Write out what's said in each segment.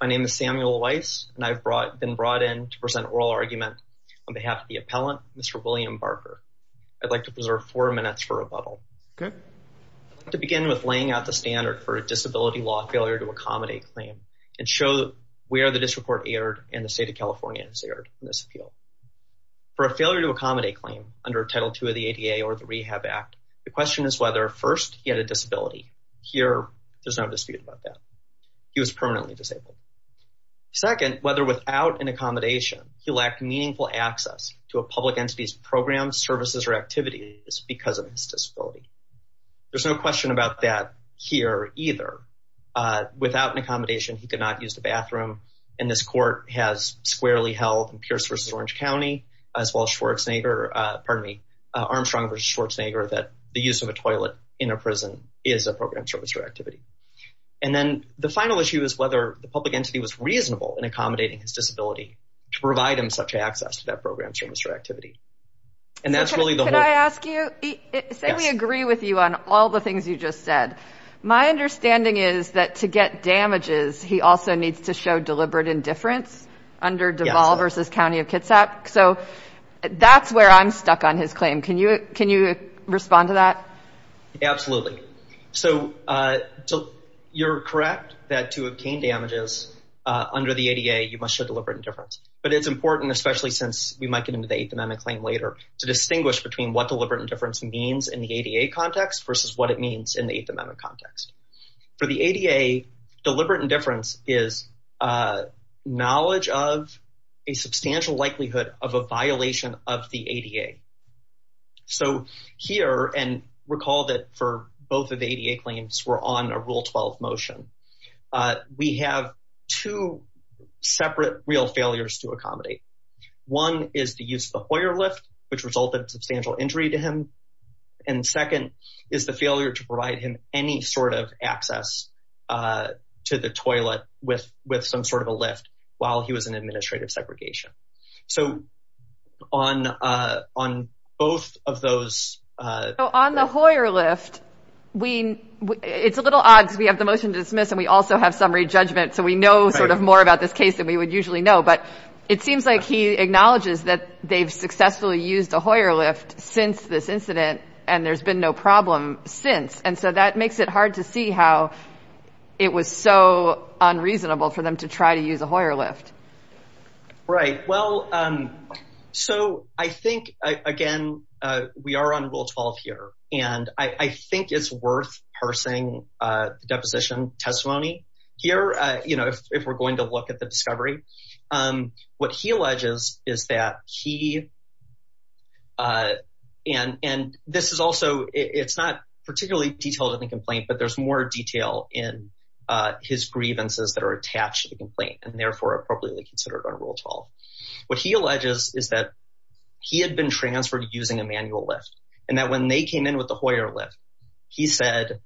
My name is Samuel Weiss and I've been brought in to present oral argument on behalf of the appellant Mr. William Barker. I'd like to preserve four minutes for rebuttal to begin with laying out the standard for a disability law failure to accommodate claim and show where the disreport erred and the state of California has erred in this appeal. For a failure to accommodate claim under Title 2 of the ADA or the Rehab Act the question is whether first he had a disability. Here there's no dispute about that. He was permanently disabled. Second whether without an accommodation he lacked meaningful access to a public entity's programs services or activities because of his disability. There's no question about that here either. Without an accommodation he could not use the bathroom and this court has squarely held in Pierce v. Orange County as well Armstrong v. Schwarzenegger that the use of a toilet in a prison is a program service or activity. And then the final issue is whether the public entity was reasonable in accommodating his disability to provide him such access to that program service or activity. And that's really the whole. Can I ask you? Say we agree with you on all the things you just said. My understanding is that to get damages he also needs to show deliberate indifference under Deval v. County of that's where I'm stuck on his claim. Can you respond to that? Absolutely. So you're correct that to obtain damages under the ADA you must show deliberate indifference. But it's important especially since we might get into the Eighth Amendment claim later to distinguish between what deliberate indifference means in the ADA context versus what it means in the Eighth Amendment context. For the ADA deliberate indifference is knowledge of a substantial likelihood of a violation of the ADA. So here and recall that for both of the ADA claims were on a Rule 12 motion. We have two separate real failures to accommodate. One is the use of the Hoyer lift which resulted substantial injury to him. And second is the failure to provide him any sort of access to the on on both of those. So on the Hoyer lift we it's a little odd because we have the motion to dismiss and we also have summary judgment so we know sort of more about this case than we would usually know. But it seems like he acknowledges that they've successfully used a Hoyer lift since this incident and there's been no problem since. And so that makes it hard to see how it was so unreasonable for them to try to use a Hoyer lift. Right. Well so I think again we are on Rule 12 here and I think it's worth parsing the deposition testimony here. You know if we're going to look at the discovery. What he alleges is that he and this is also it's not particularly detailed in the that are attached to the complaint and therefore appropriately considered on Rule 12. What he alleges is that he had been transferred using a manual lift and that when they came in with the Hoyer lift he said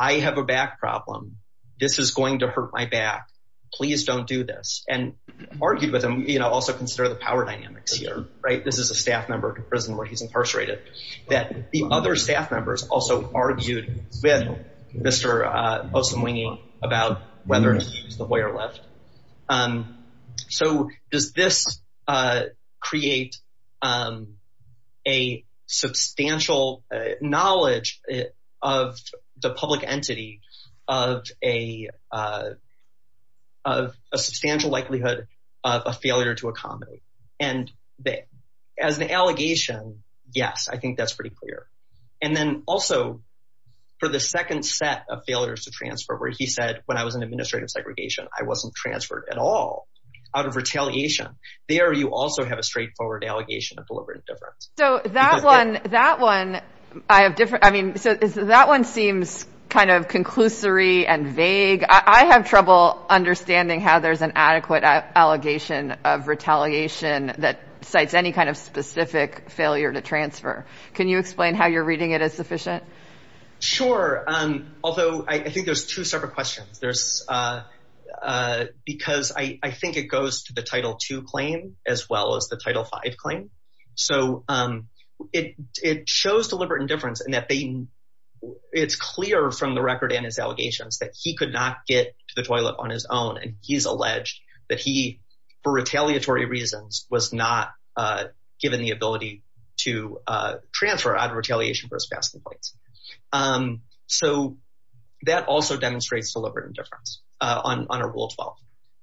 I have a back problem. This is going to hurt my back. Please don't do this. And argued with him you know also consider the power dynamics here right. This is a staff member to prison where he's incarcerated. That the other staff members also argued with Mr. Poston-Wingy about whether to use the Hoyer lift. So does this create a substantial knowledge of the public entity of a substantial likelihood of a failure to accommodate. And as an allegation yes I think that's pretty clear. And then also for the second set of failures to transfer where he said when I was in administrative segregation I wasn't transferred at all out of retaliation. There you also have a straightforward allegation of deliberate indifference. So that one that one I have different I mean so that one seems kind of conclusory and vague. I have trouble understanding how there's an adequate allegation of retaliation that cites any kind of specific failure to accommodate. Can you explain how you're reading it as sufficient? Sure. Although I think there's two separate questions. There's because I think it goes to the title two claim as well as the title five claim. So it shows deliberate indifference and that it's clear from the record and his allegations that he could not get to the toilet on his own. And he's alleged that he for retaliatory reasons was not given the ability to transfer out of retaliation for his past complaints. So that also demonstrates deliberate indifference on a rule 12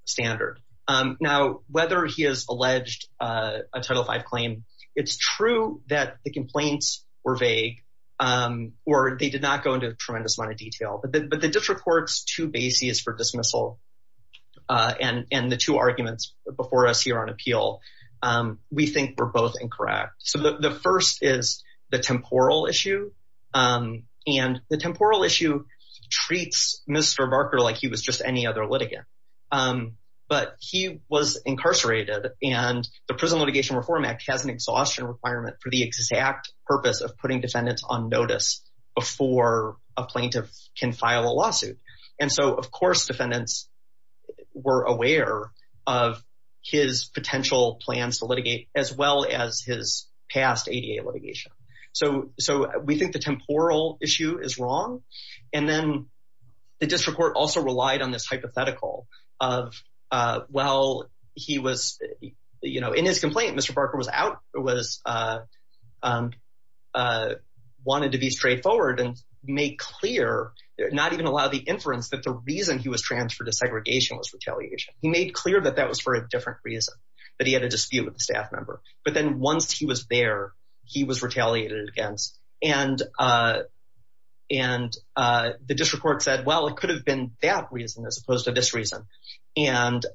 standard. Now whether he has alleged a title five claim it's true that the complaints were vague or they did not go into a tremendous amount of detail. But the district court's two bases for dismissal and the two arguments before us here on appeal we think were both incorrect. So the first is the temporal issue and the temporal issue treats Mr. Barker like he was just any other litigant. But he was incarcerated and the Prison Litigation Reform Act has an exhaustion requirement for the exact purpose of putting defendants on notice before a plaintiff can file a lawsuit. And so of course defendants were aware of his potential plans to litigate as well as his past ADA litigation. So we think the temporal issue is wrong. And then the district court also relied on this hypothetical of well he was you know in his complaint Mr. Barker was out, was wanted to be straightforward and make clear not even allow the inference that the reason he was transferred to segregation was retaliation. He made clear that that was for a different reason that he had a dispute with the staff member. But then once he was there he was retaliated against and the district court said well it could have been that reason as opposed to this reason. And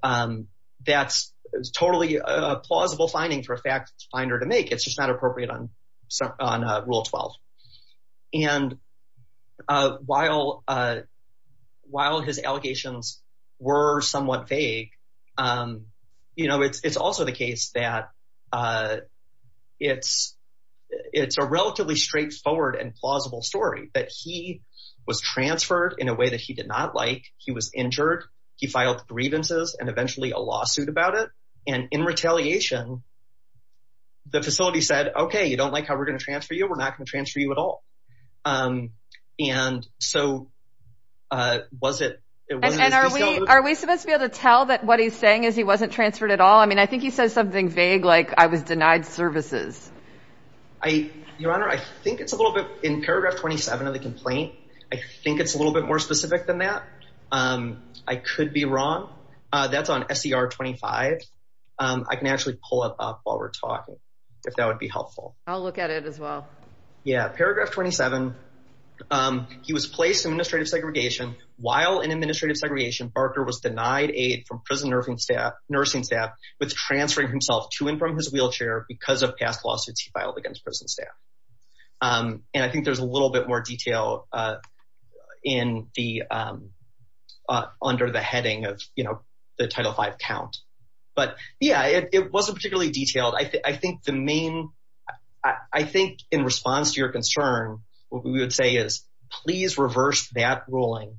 that's totally a plausible finding for a fact finder to make it's just not appropriate on Rule 12. And while his allegations were somewhat vague you know it's also the case that it's a relatively straightforward and plausible story that he was transferred in a way that he did not like. He was injured. He filed grievances and eventually a lawsuit about it. And in retaliation the facility said okay you don't like how we're going to transfer you we're not going to transfer you at all. And so was it and are we are we supposed to be able to tell that what he's saying is he wasn't transferred at all. I mean I think he says something vague like I was denied services. I your honor I think it's a little bit in paragraph 27 of the complaint. I think it's a little bit more specific than that. I could be wrong. That's on SCR 25. I can actually pull it up while we're talking if that would be helpful. I'll look at it as well. Yeah paragraph 27. He was placed in administrative segregation while in administrative segregation Barker was denied aid from prison nursing staff with transferring himself to and from his wheelchair because of past lawsuits he filed against prison staff. And I think there's a little bit more detail in the under the heading of you know the title five count. But yeah it wasn't particularly detailed. I think the main I think in response to your concern what we would say is please reverse that ruling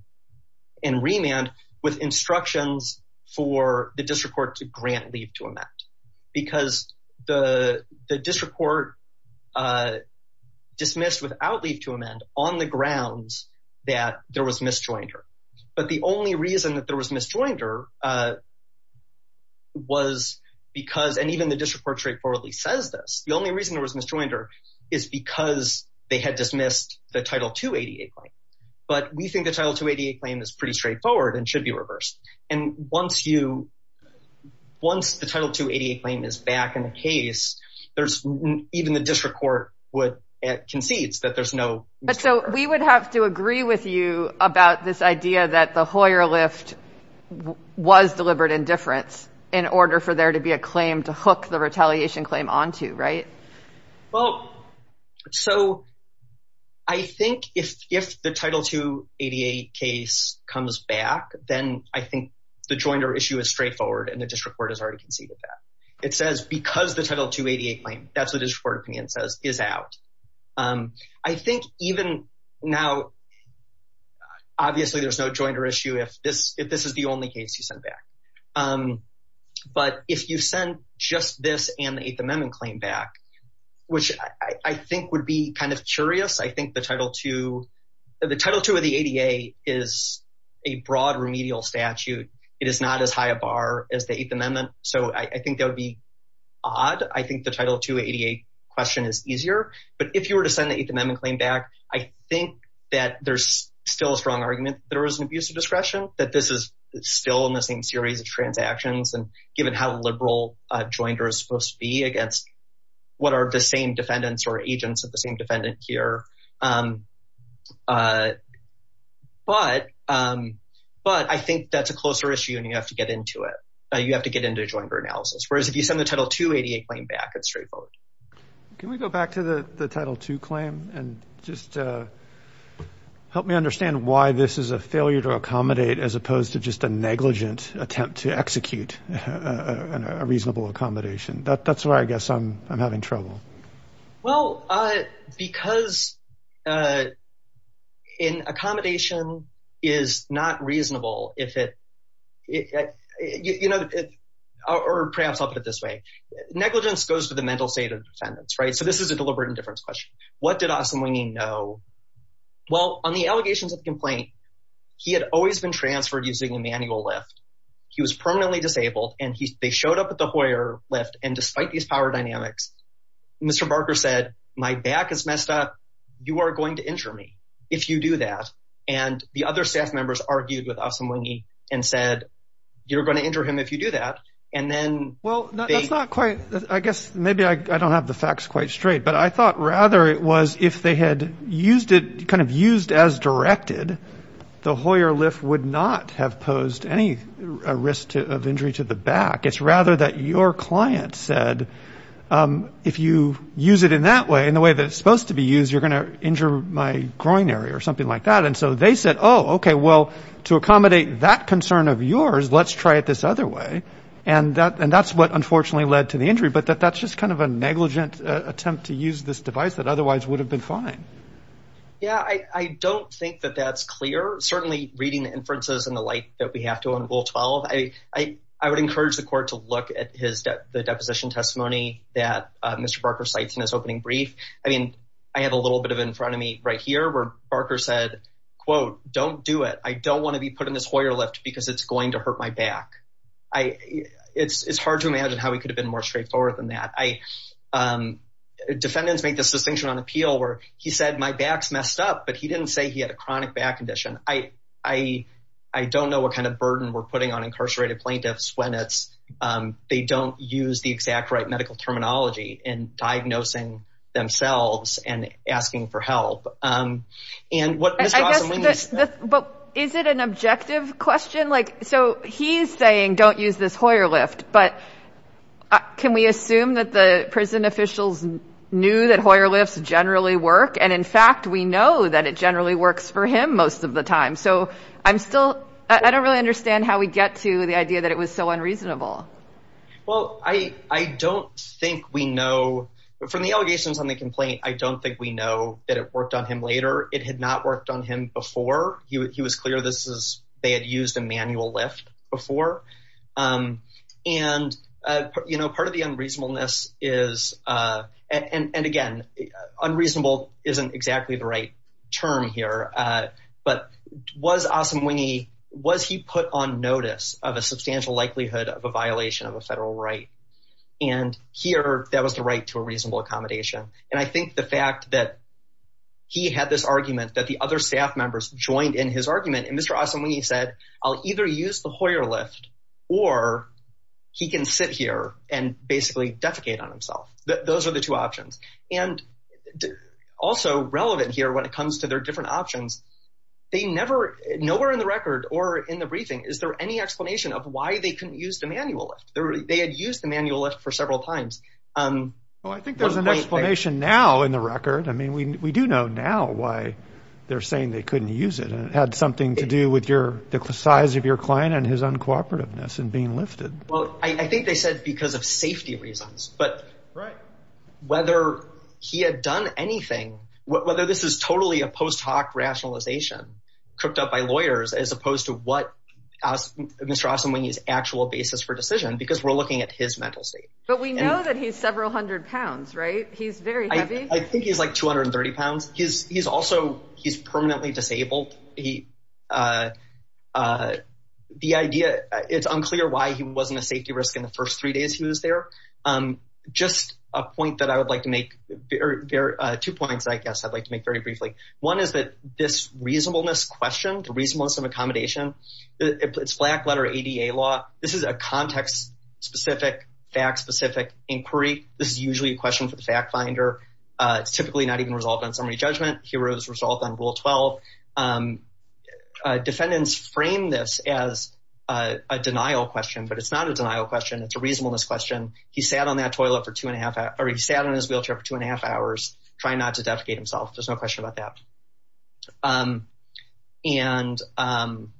and remand with instructions for the district court to grant leave to amend. Because the district court dismissed without leave to amend on the grounds that there was misjoinder. But the only reason that there was misjoinder was because and even the district court straightforwardly says this. The only reason there was misjoinder is because they had dismissed the title 288 claim. But we think the title 288 is pretty straightforward and should be reversed. And once you once the title 288 claim is back in the case there's even the district court would concedes that there's no. But so we would have to agree with you about this idea that the Hoyer lift was deliberate indifference in order for there to be a claim to hook the retaliation claim onto right? Well so I think if if the title 288 case comes back then I think the joiner issue is straightforward and the district court has already conceded that. It says because the title 288 claim that's what his court opinion says is out. I think even now obviously there's no joiner issue if this if this is the only case you send back. But if you send just this and the eighth amendment claim back which I think would be kind of curious I think the title 2 the title 2 of the ADA is a broad remedial statute. It is not as high a bar as the eighth amendment so I think that would be odd. I think the title 288 question is easier but if you were to send the eighth amendment claim back I think that there's still a strong argument there is an abuse of discretion that this is still in the same series of transactions and given how liberal a joiner is supposed to be against what are the same defendants or agents of the same defendant here. But I think that's a closer issue and you have to get into it. You have to get into a joiner analysis whereas if you send the title 288 claim back it's straightforward. Can we go back to the the title 2 claim and just help me understand why this is a failure to accommodate as opposed to just a negligent attempt to execute a reasonable accommodation. That's why I guess I'm having trouble. Well because in accommodation is not reasonable if it you know it or perhaps I'll put it this way negligence goes to the mental state of defendants right so this is a deliberate indifference question. What did Austin Wingeney know? Well on the allegations of the complaint he had always been transferred using a manual lift. He was permanently disabled and they showed up at the Hoyer lift and despite these power dynamics Mr. Barker said my back is messed up you are going to injure me if you do that and the other staff members argued with Austin Wingeney and said you're going to injure him if you do that and then well that's not quite I guess maybe I don't have the facts quite straight but I thought rather it if they had used it kind of used as directed the Hoyer lift would not have posed any risk of injury to the back it's rather that your client said if you use it in that way in the way that it's supposed to be used you're going to injure my groin area or something like that and so they said oh okay well to accommodate that concern of yours let's try it this other way and that and that's what unfortunately led to the injury but that that's just kind of a negligent attempt to use this device that otherwise would have been fine yeah I don't think that that's clear certainly reading the inferences and the light that we have to on rule 12 I would encourage the court to look at his the deposition testimony that Mr. Barker cites in his opening brief I mean I have a little bit of in front of me right here where Barker said quote don't do it I don't want to be put in this Hoyer lift because it's going to hurt my back I it's it's hard to imagine how he could have been more straightforward than that I defendants make this distinction on appeal where he said my back's messed up but he didn't say he had a chronic back condition I I don't know what kind of burden we're putting on incarcerated plaintiffs when it's they don't use the exact right medical terminology in diagnosing themselves and asking for help and what is it an objective question like so he's saying don't use this Hoyer lift but can we assume that the prison officials knew that Hoyer lifts generally work and in fact we know that it generally works for him most of the time so I'm still I don't really understand how we get to the idea that it was so unreasonable well I I don't think we know from the allegations on the complaint I don't think we know that it used a manual lift before and you know part of the unreasonableness is and and again unreasonable isn't exactly the right term here but was awesome wingy was he put on notice of a substantial likelihood of a violation of a federal right and here that was the right to a reasonable accommodation and I think the fact that he had this argument that the other staff members joined in his argument and Mr. Awesome when he said I'll either use the Hoyer lift or he can sit here and basically defecate on himself those are the two options and also relevant here when it comes to their different options they never nowhere in the record or in the briefing is there any explanation of why they couldn't use the manual lift they had used the manual lift for several times um well I think there's an explanation now in the record I mean we we do know now why they're saying they couldn't use it and it had something to do with your the size of your client and his uncooperativeness and being lifted well I think they said because of safety reasons but right whether he had done anything whether this is totally a post-hoc rationalization cooked up by lawyers as opposed to what asked Mr. Awesome when his actual basis for decision because we're looking at his mental state but we know that he's several hundred pounds right he's very heavy I think he's like 230 pounds he's he's also he's permanently disabled he uh uh the idea it's unclear why he wasn't a safety risk in the first three days he was there um just a point that I would like to make there are two points I guess I'd like to make very briefly one is that this reasonableness question the reasonableness of accommodation it's black letter ADA law this is a typically not even resolved on summary judgment heroes resolved on rule 12 um defendants frame this as a denial question but it's not a denial question it's a reasonableness question he sat on that toilet for two and a half hour he sat on his wheelchair for two and a half hours trying not to defecate himself there's no question about that um and um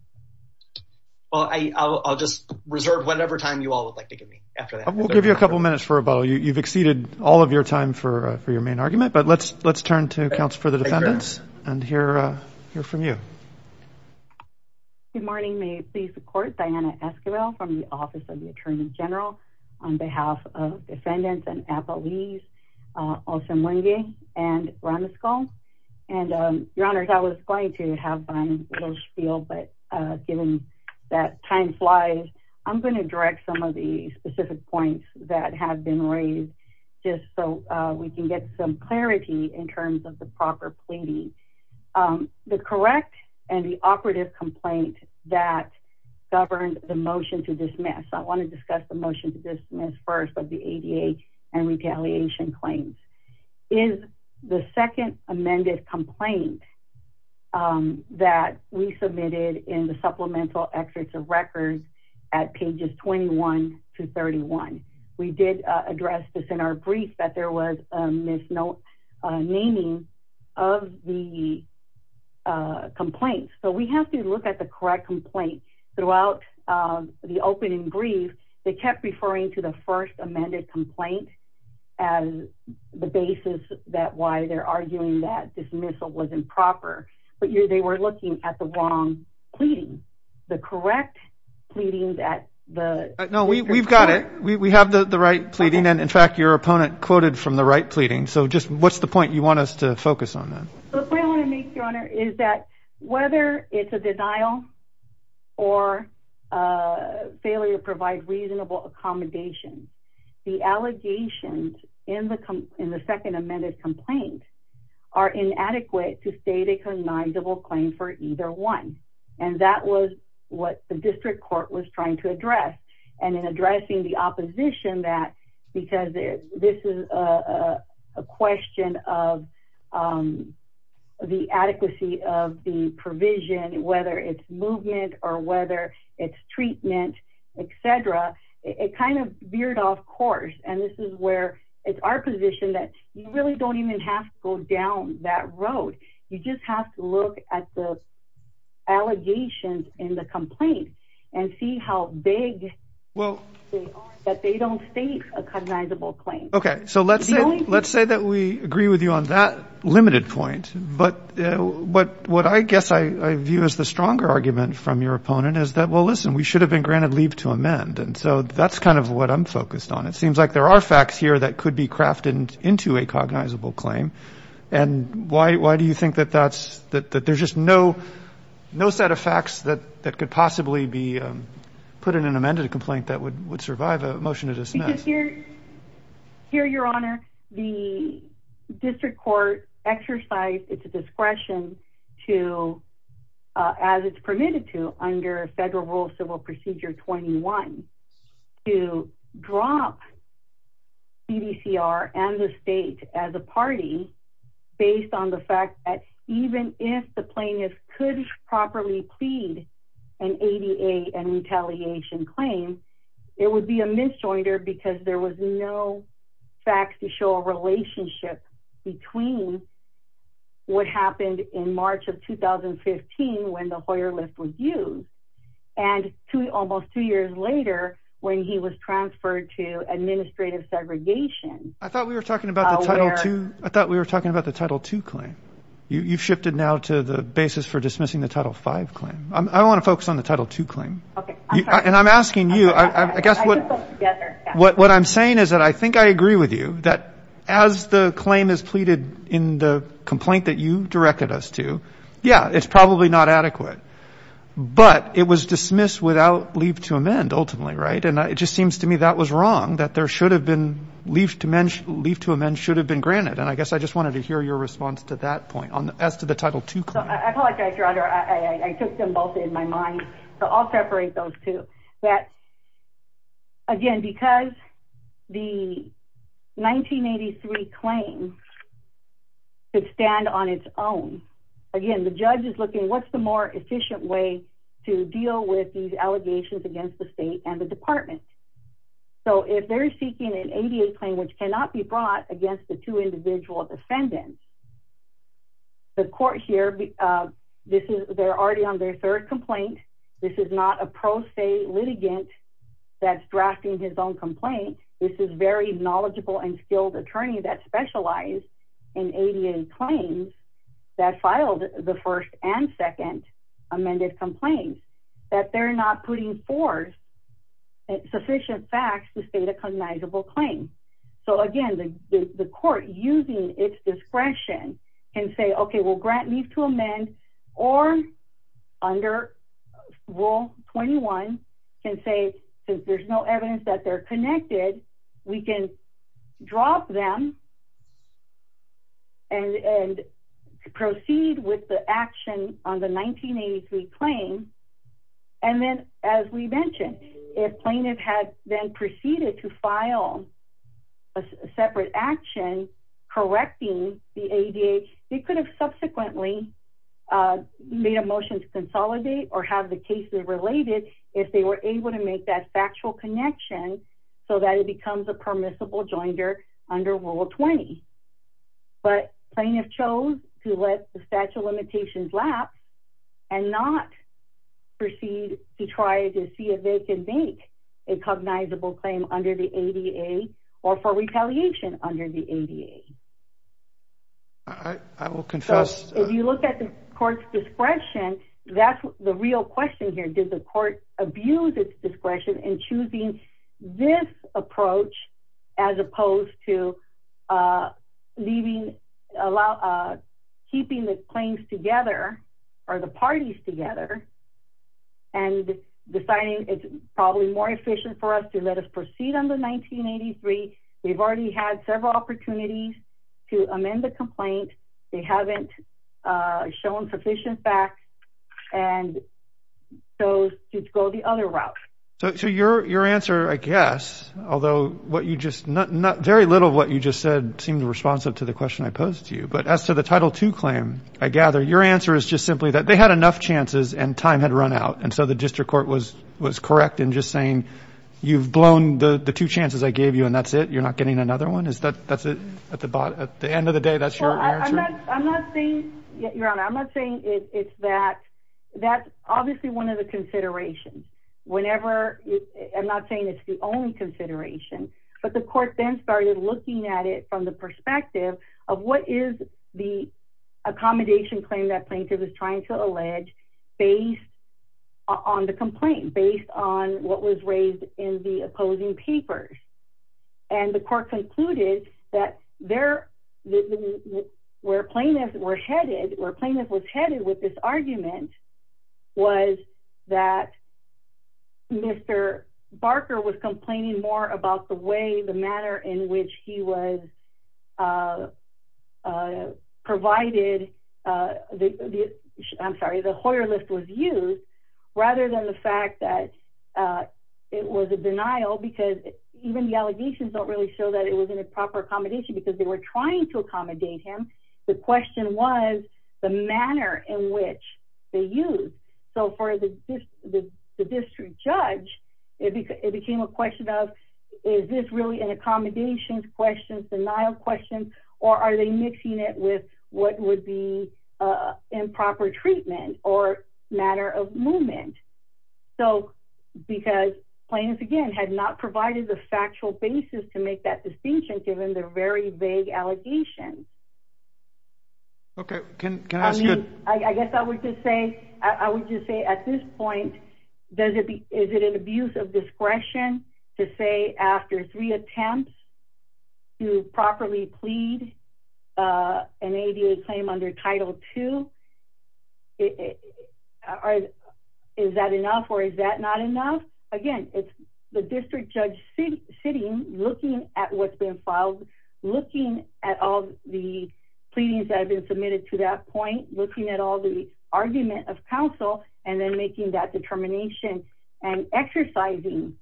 well I I'll just reserve whatever time you all would like to give me after that we'll give you a couple minutes for you you've exceeded all of your time for for your main argument but let's let's turn to counsel for the defendants and hear uh hear from you good morning may please support Diana Esquivel from the office of the attorney general on behalf of defendants and appellees uh also mwingi and ramaskol and um your honors I was going to have been a little spiel but uh given that time flies I'm going to direct some of the specific points that have been raised just so uh we can get some clarity in terms of the proper pleading um the correct and the operative complaint that governed the motion to dismiss I want to discuss the motion to dismiss first of the ADA and retaliation claims is the second amended complaint um that we submitted in the supplemental excerpts of records at pages 21 to 31 we did address this in our brief that there was a misnomer naming of the complaints so we have to look at the correct complaint throughout the opening brief they kept referring to the first amended complaint as the basis that why they're arguing that dismissal was improper but you they were looking at the wrong pleading the correct pleading that the no we we've got it we we have the the right pleading and in fact your opponent quoted from the right pleading so just what's the point you want us to focus on that the point I want to make your honor is that whether it's a denial or a failure to provide reasonable accommodation the allegations in the in the second amended complaint are inadequate to state a cognizable claim for either one and that was what the district court was trying to address and in addressing the opposition that because this is a question of um the adequacy of the provision whether it's movement or whether it's treatment etc it kind of veered off course and this is where it's our position that you really don't even have to go down that road you just have to look at the allegations in the complaint and see how big well that they don't state a cognizable claim okay so let's say let's say that we agree with you on that limited point but but what I guess I I view as the stronger argument from your opponent is that well listen we should have been granted leave to amend and so that's kind of what I'm focused on it seems like there are facts here that could be crafted into a cognizable claim and why why do you think that that's that there's just no no set of facts that that could possibly be um put in an amended complaint that would would survive a motion to dismiss here here your honor the district court exercised its discretion to uh as it's permitted to under federal rule civil procedure 21 to drop cdcr and the state as a party based on the fact that even if the plaintiff could properly plead an ada and retaliation claim it would be a misjoinder because there was no facts to show a relationship between what happened in March of 2015 when the Hoyer list was used and to almost two years later when he was transferred to administrative segregation I thought we were talking about the title two I thought we were talking about the title two claim you've shifted now to the basis for dismissing the title five claim I want to focus on the title two claim okay and I'm asking you I guess what what I'm saying is that I think I agree with you that as the claim is pleaded in the complaint that you directed us to yeah it's probably not adequate but it was dismissed without leave to amend ultimately right and it just seems to me that was wrong that there should have been leave to mention leave to amend should have been granted and I guess I just wanted to hear your response to that point on as to the title two I apologize I'll separate those two that again because the 1983 claim could stand on its own again the judge is looking what's the more efficient way to deal with these allegations against the state and the department so if they're seeking an ADA claim which cannot be brought against the two individual defendants the court here this is they're already on their third complaint this is not a pro se litigant that's drafting his own complaint this is very knowledgeable and skilled attorney that specialized in ADA claims that filed the first and second amended complaints that they're not putting forth sufficient facts to state a cognizable claim so again the court using its discretion can say okay well grant leave to amend or under rule 21 can say since there's no evidence that they're connected we can drop them and and proceed with the action on the 1983 claim and then as we mentioned if plaintiff had then proceeded to file a separate action correcting the ADA they could have subsequently made a motion to consolidate or have the cases related if they were able to make that factual connection so that it becomes a permissible under rule 20 but plaintiff chose to let the statute of limitations lapse and not proceed to try to see if they can make a cognizable claim under the ADA or for retaliation under the ADA I will confess if you look at the court's discretion that's the real question here did court abuse its discretion in choosing this approach as opposed to leaving allow keeping the claims together or the parties together and deciding it's probably more efficient for us to let us proceed on the 1983 we've already had several opportunities to amend the complaint they haven't shown sufficient facts and so to go the other route so so your your answer I guess although what you just not not very little what you just said seemed responsive to the question I posed to you but as to the title two claim I gather your answer is just simply that they had enough chances and time had run out and so the district court was was correct in just saying you've blown the the two chances I gave you and that's it you're not getting another one is that that's it at the bottom at the end of the day that's your answer I'm not saying your honor I'm not saying it's that that's obviously one of the considerations whenever I'm not saying it's the only consideration but the court then started looking at it from the perspective of what is the accommodation claim that plaintiff is trying to that there were plaintiffs were headed or plaintiff was headed with this argument was that Mr. Barker was complaining more about the way the manner in which he was provided the I'm sorry the Hoyer list was used rather than the fact that it was a denial because even the allegations don't really show that it was in a proper accommodation because they were trying to accommodate him the question was the manner in which they used so for the district judge it became a question of is this really an accommodations questions denial questions or are they mixing it with what would be improper treatment or matter of movement so because plaintiffs again had not provided the factual basis to make that distinction given the very vague allegations okay can can I ask you I guess I would just say I would just say at this point does it be is it an abuse of discretion to say after three attempts to properly plead uh an ADA claim under title two or is that enough or is that not enough again it's the district judge sitting looking at what's been filed looking at all the pleadings that have been submitted to that point looking at all the argument of counsel and then making that determination and exercising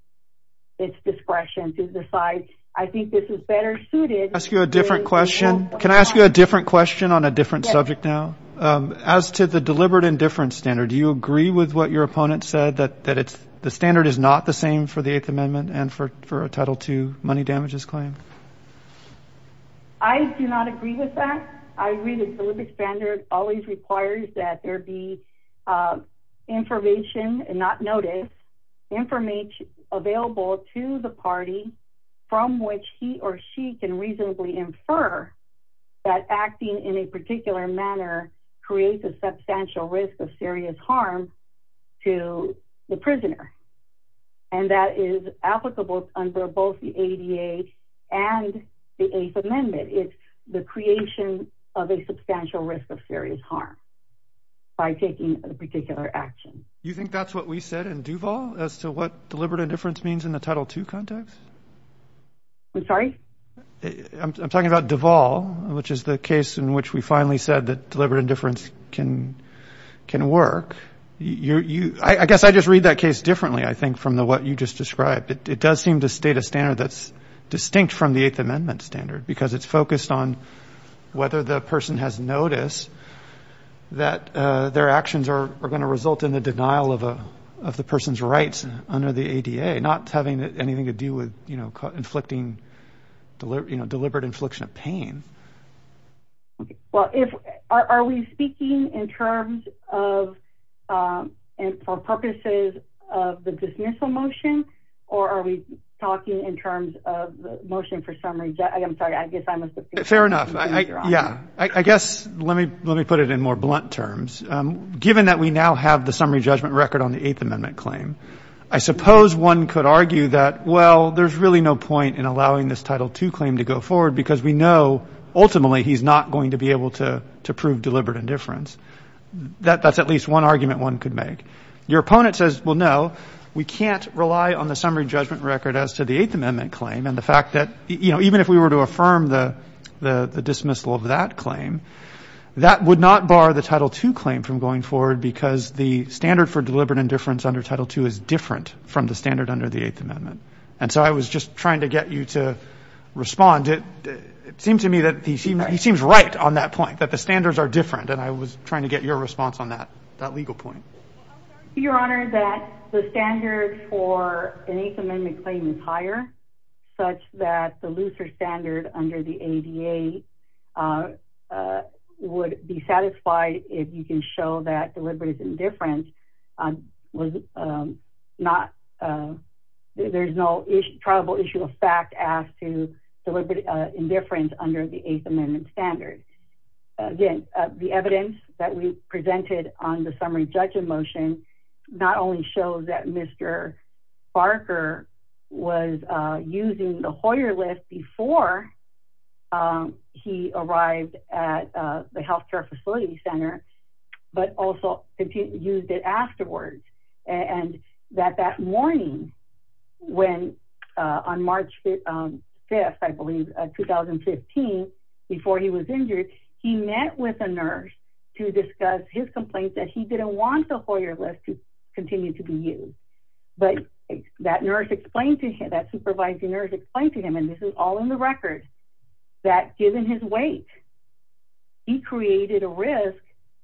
its discretion to decide I think this is better suited ask you a different question can I ask you a different question on a different subject now as to the deliberate indifference standard do you agree with what your opponent said that that it's the standard is not the same for the eighth amendment and for for a title two money damages claim I do not agree with that I read the Olympic standard always requires that there be information and not notice information available to the party from which he or she can reasonably infer that acting in a particular manner creates a substantial risk of serious harm to the prisoner and that is applicable under both the ADA and the eighth is harm by taking a particular action you think that's what we said in Duval as to what deliberate indifference means in the title two context I'm sorry I'm talking about Duval which is the case in which we finally said that deliberate indifference can can work you you I guess I just read that case differently I think from the what you just described it does seem to state a standard that's distinct from the eighth amendment standard because it's focused on whether the person has noticed that their actions are going to result in the denial of a of the person's rights under the ADA not having anything to do with you know inflicting deliberate you know deliberate infliction of pain well if are we speaking in terms of and for purposes of the dismissal motion or are we talking in terms of the motion for summary I'm sorry I guess I must have fair enough yeah I guess let me let me put it in more blunt terms given that we now have the summary judgment record on the eighth amendment claim I suppose one could argue that well there's really no point in allowing this title two claim to go forward because we know ultimately he's not going to be able to to prove deliberate indifference that that's at least one argument one could make your opponent says well no we can't rely on the summary judgment record as to the and the fact that you know even if we were to affirm the the dismissal of that claim that would not bar the title two claim from going forward because the standard for deliberate indifference under title two is different from the standard under the eighth amendment and so I was just trying to get you to respond it it seemed to me that he seems he seems right on that point that the standards are different and I was trying to get your response on that that legal point your honor that the standard for an eighth amendment claim is higher such that the looser standard under the ADA would be satisfied if you can show that deliberate indifference was not there's no issue probable issue of fact as to deliberate indifference under the eighth amendment standards again the evidence that we presented on the summary judgment motion not only shows that Mr. Barker was using the Hoyer list before he arrived at the health care facility center but also used it afterwards and that that morning when on March 5th I believe 2015 before he was injured he met with a nurse to discuss his complaints that he didn't want the Hoyer list to continue to be used but that nurse explained to him that supervising nurse explained to him and this is all in the record that given his weight he created a risk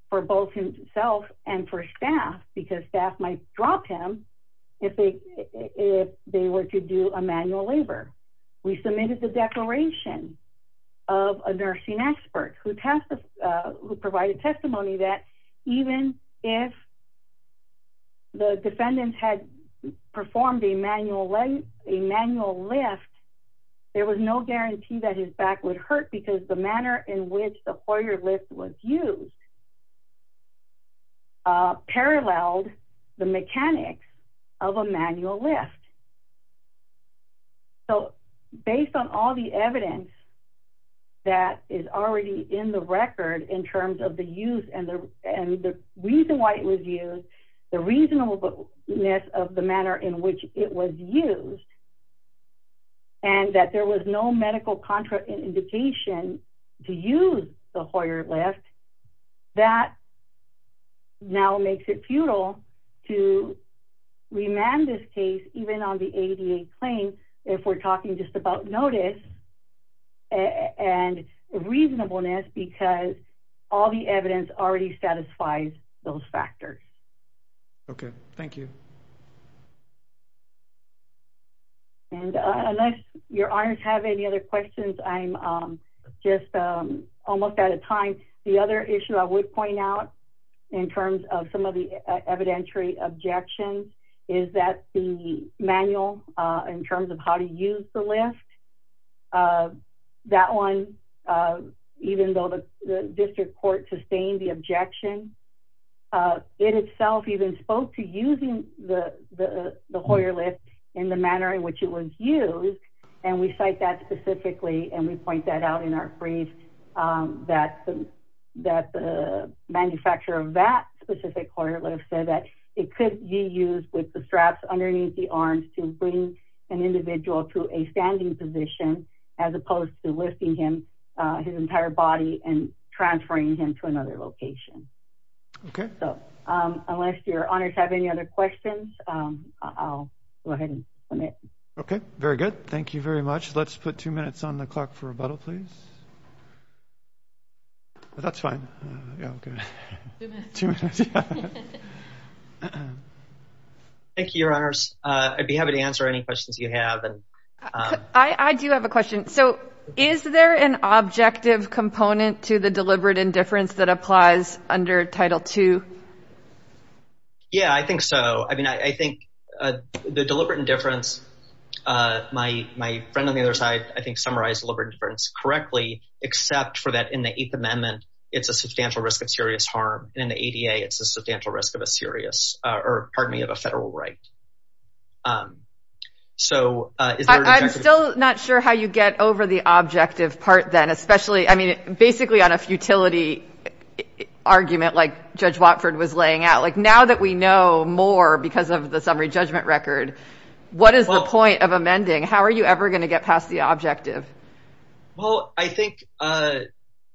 for both himself and for staff because staff might drop him if they if they were to do a manual labor we submitted the declaration of a nursing expert who passed who provided testimony that even if the defendants had performed a manual a manual lift there was no guarantee that his back would hurt because the manner in which the Hoyer list was used uh paralleled the mechanics of a manual lift so based on all the evidence that is already in the record in terms of the use and the and the reason why it was used the reasonableness of the manner in which it was used and that there was no medical contraindication to use the Hoyer lift that now makes it futile to remand this case even on the ADA claim if we're talking just about notice and reasonableness because all the evidence already satisfies those factors okay thank you and unless your honors have any other questions I'm just almost out of time the other issue I would point out in terms of some of the evidentiary objections is that the manual in terms of how to use the lift that one even though the district court sustained the objection uh it itself even spoke to using the the Hoyer lift in the manner in which it was used and we cite that specifically and we point that out in our brief um that that the manufacturer of that specific Hoyer lift said that it could be used with the straps underneath the arms to bring an individual to a standing position as opposed to lifting him uh his entire body and transferring him to another location okay so um unless your honors have any other questions um I'll go ahead and submit okay very good thank you very much let's put two minutes on the clock for rebuttal please that's fine yeah okay two minutes thank you your honors uh I'd be happy to answer any questions you have and I do have a question so is there an objective component to the deliberate indifference that applies under title two yeah I think so I mean I think uh the deliberate indifference uh my my friend on the other side I think summarized deliberate difference correctly except for that in the eighth amendment it's a substantial risk of serious harm and in the ADA it's a substantial risk of a serious or pardon me of a federal right um so uh I'm still not sure how you get over the objective part then especially I mean basically on a futility argument like Judge Watford was laying out like now that we know more because of the summary judgment record what is the point of amending how are you ever going to get past the objective well I think uh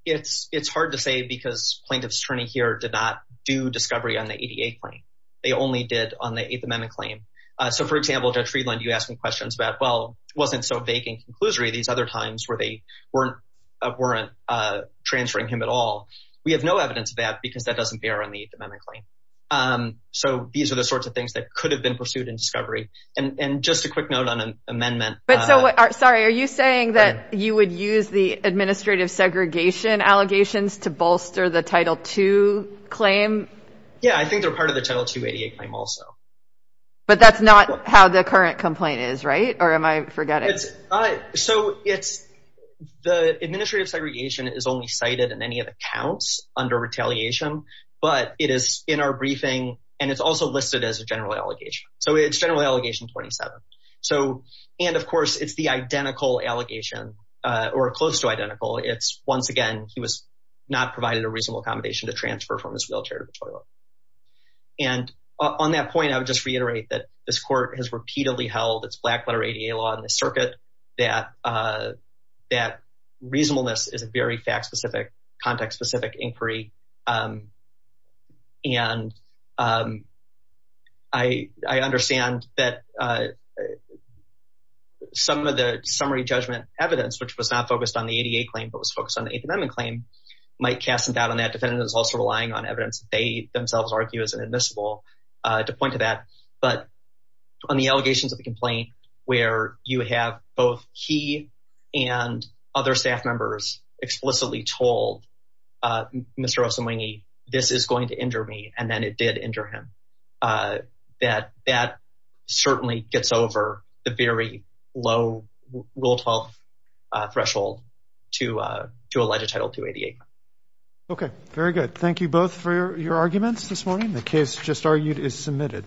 it's it's hard to say because plaintiff's attorney here did not do discovery on the ADA claim they only did on the eighth amendment claim uh so for example Judge Friedland you asked me questions about well wasn't so vague in conclusory these other times where they weren't uh weren't uh transferring him at all we have no evidence of that because that doesn't bear on the eighth amendment claim um so these are the sorts of things that could have been pursued in discovery and and just a quick note on an amendment but so sorry are you saying that you would use the administrative segregation allegations to bolster the title 2 claim yeah I think they're part of the title 288 claim also but that's not how the current complaint is right or am I forgetting it's uh so it's the administrative segregation is only cited in any of the counts under retaliation but it is in our briefing and also listed as a general allegation so it's generally allegation 27 so and of course it's the identical allegation uh or close to identical it's once again he was not provided a reasonable accommodation to transfer from his wheelchair to the toilet and on that point I would just reiterate that this court has repeatedly held its black letter ADA law in the circuit that uh reasonableness is a very fact-specific context-specific inquiry um and um I I understand that uh some of the summary judgment evidence which was not focused on the ADA claim but was focused on the eighth amendment claim might cast some doubt on that defendant is also relying on evidence they themselves argue is inadmissible uh to point to that but on the allegations of where you have both he and other staff members explicitly told uh Mr. Rosenwenge this is going to injure me and then it did injure him uh that that certainly gets over the very low rule 12 uh threshold to uh to allege a title 288 okay very good thank you both for your arguments this morning the case just argued is submitted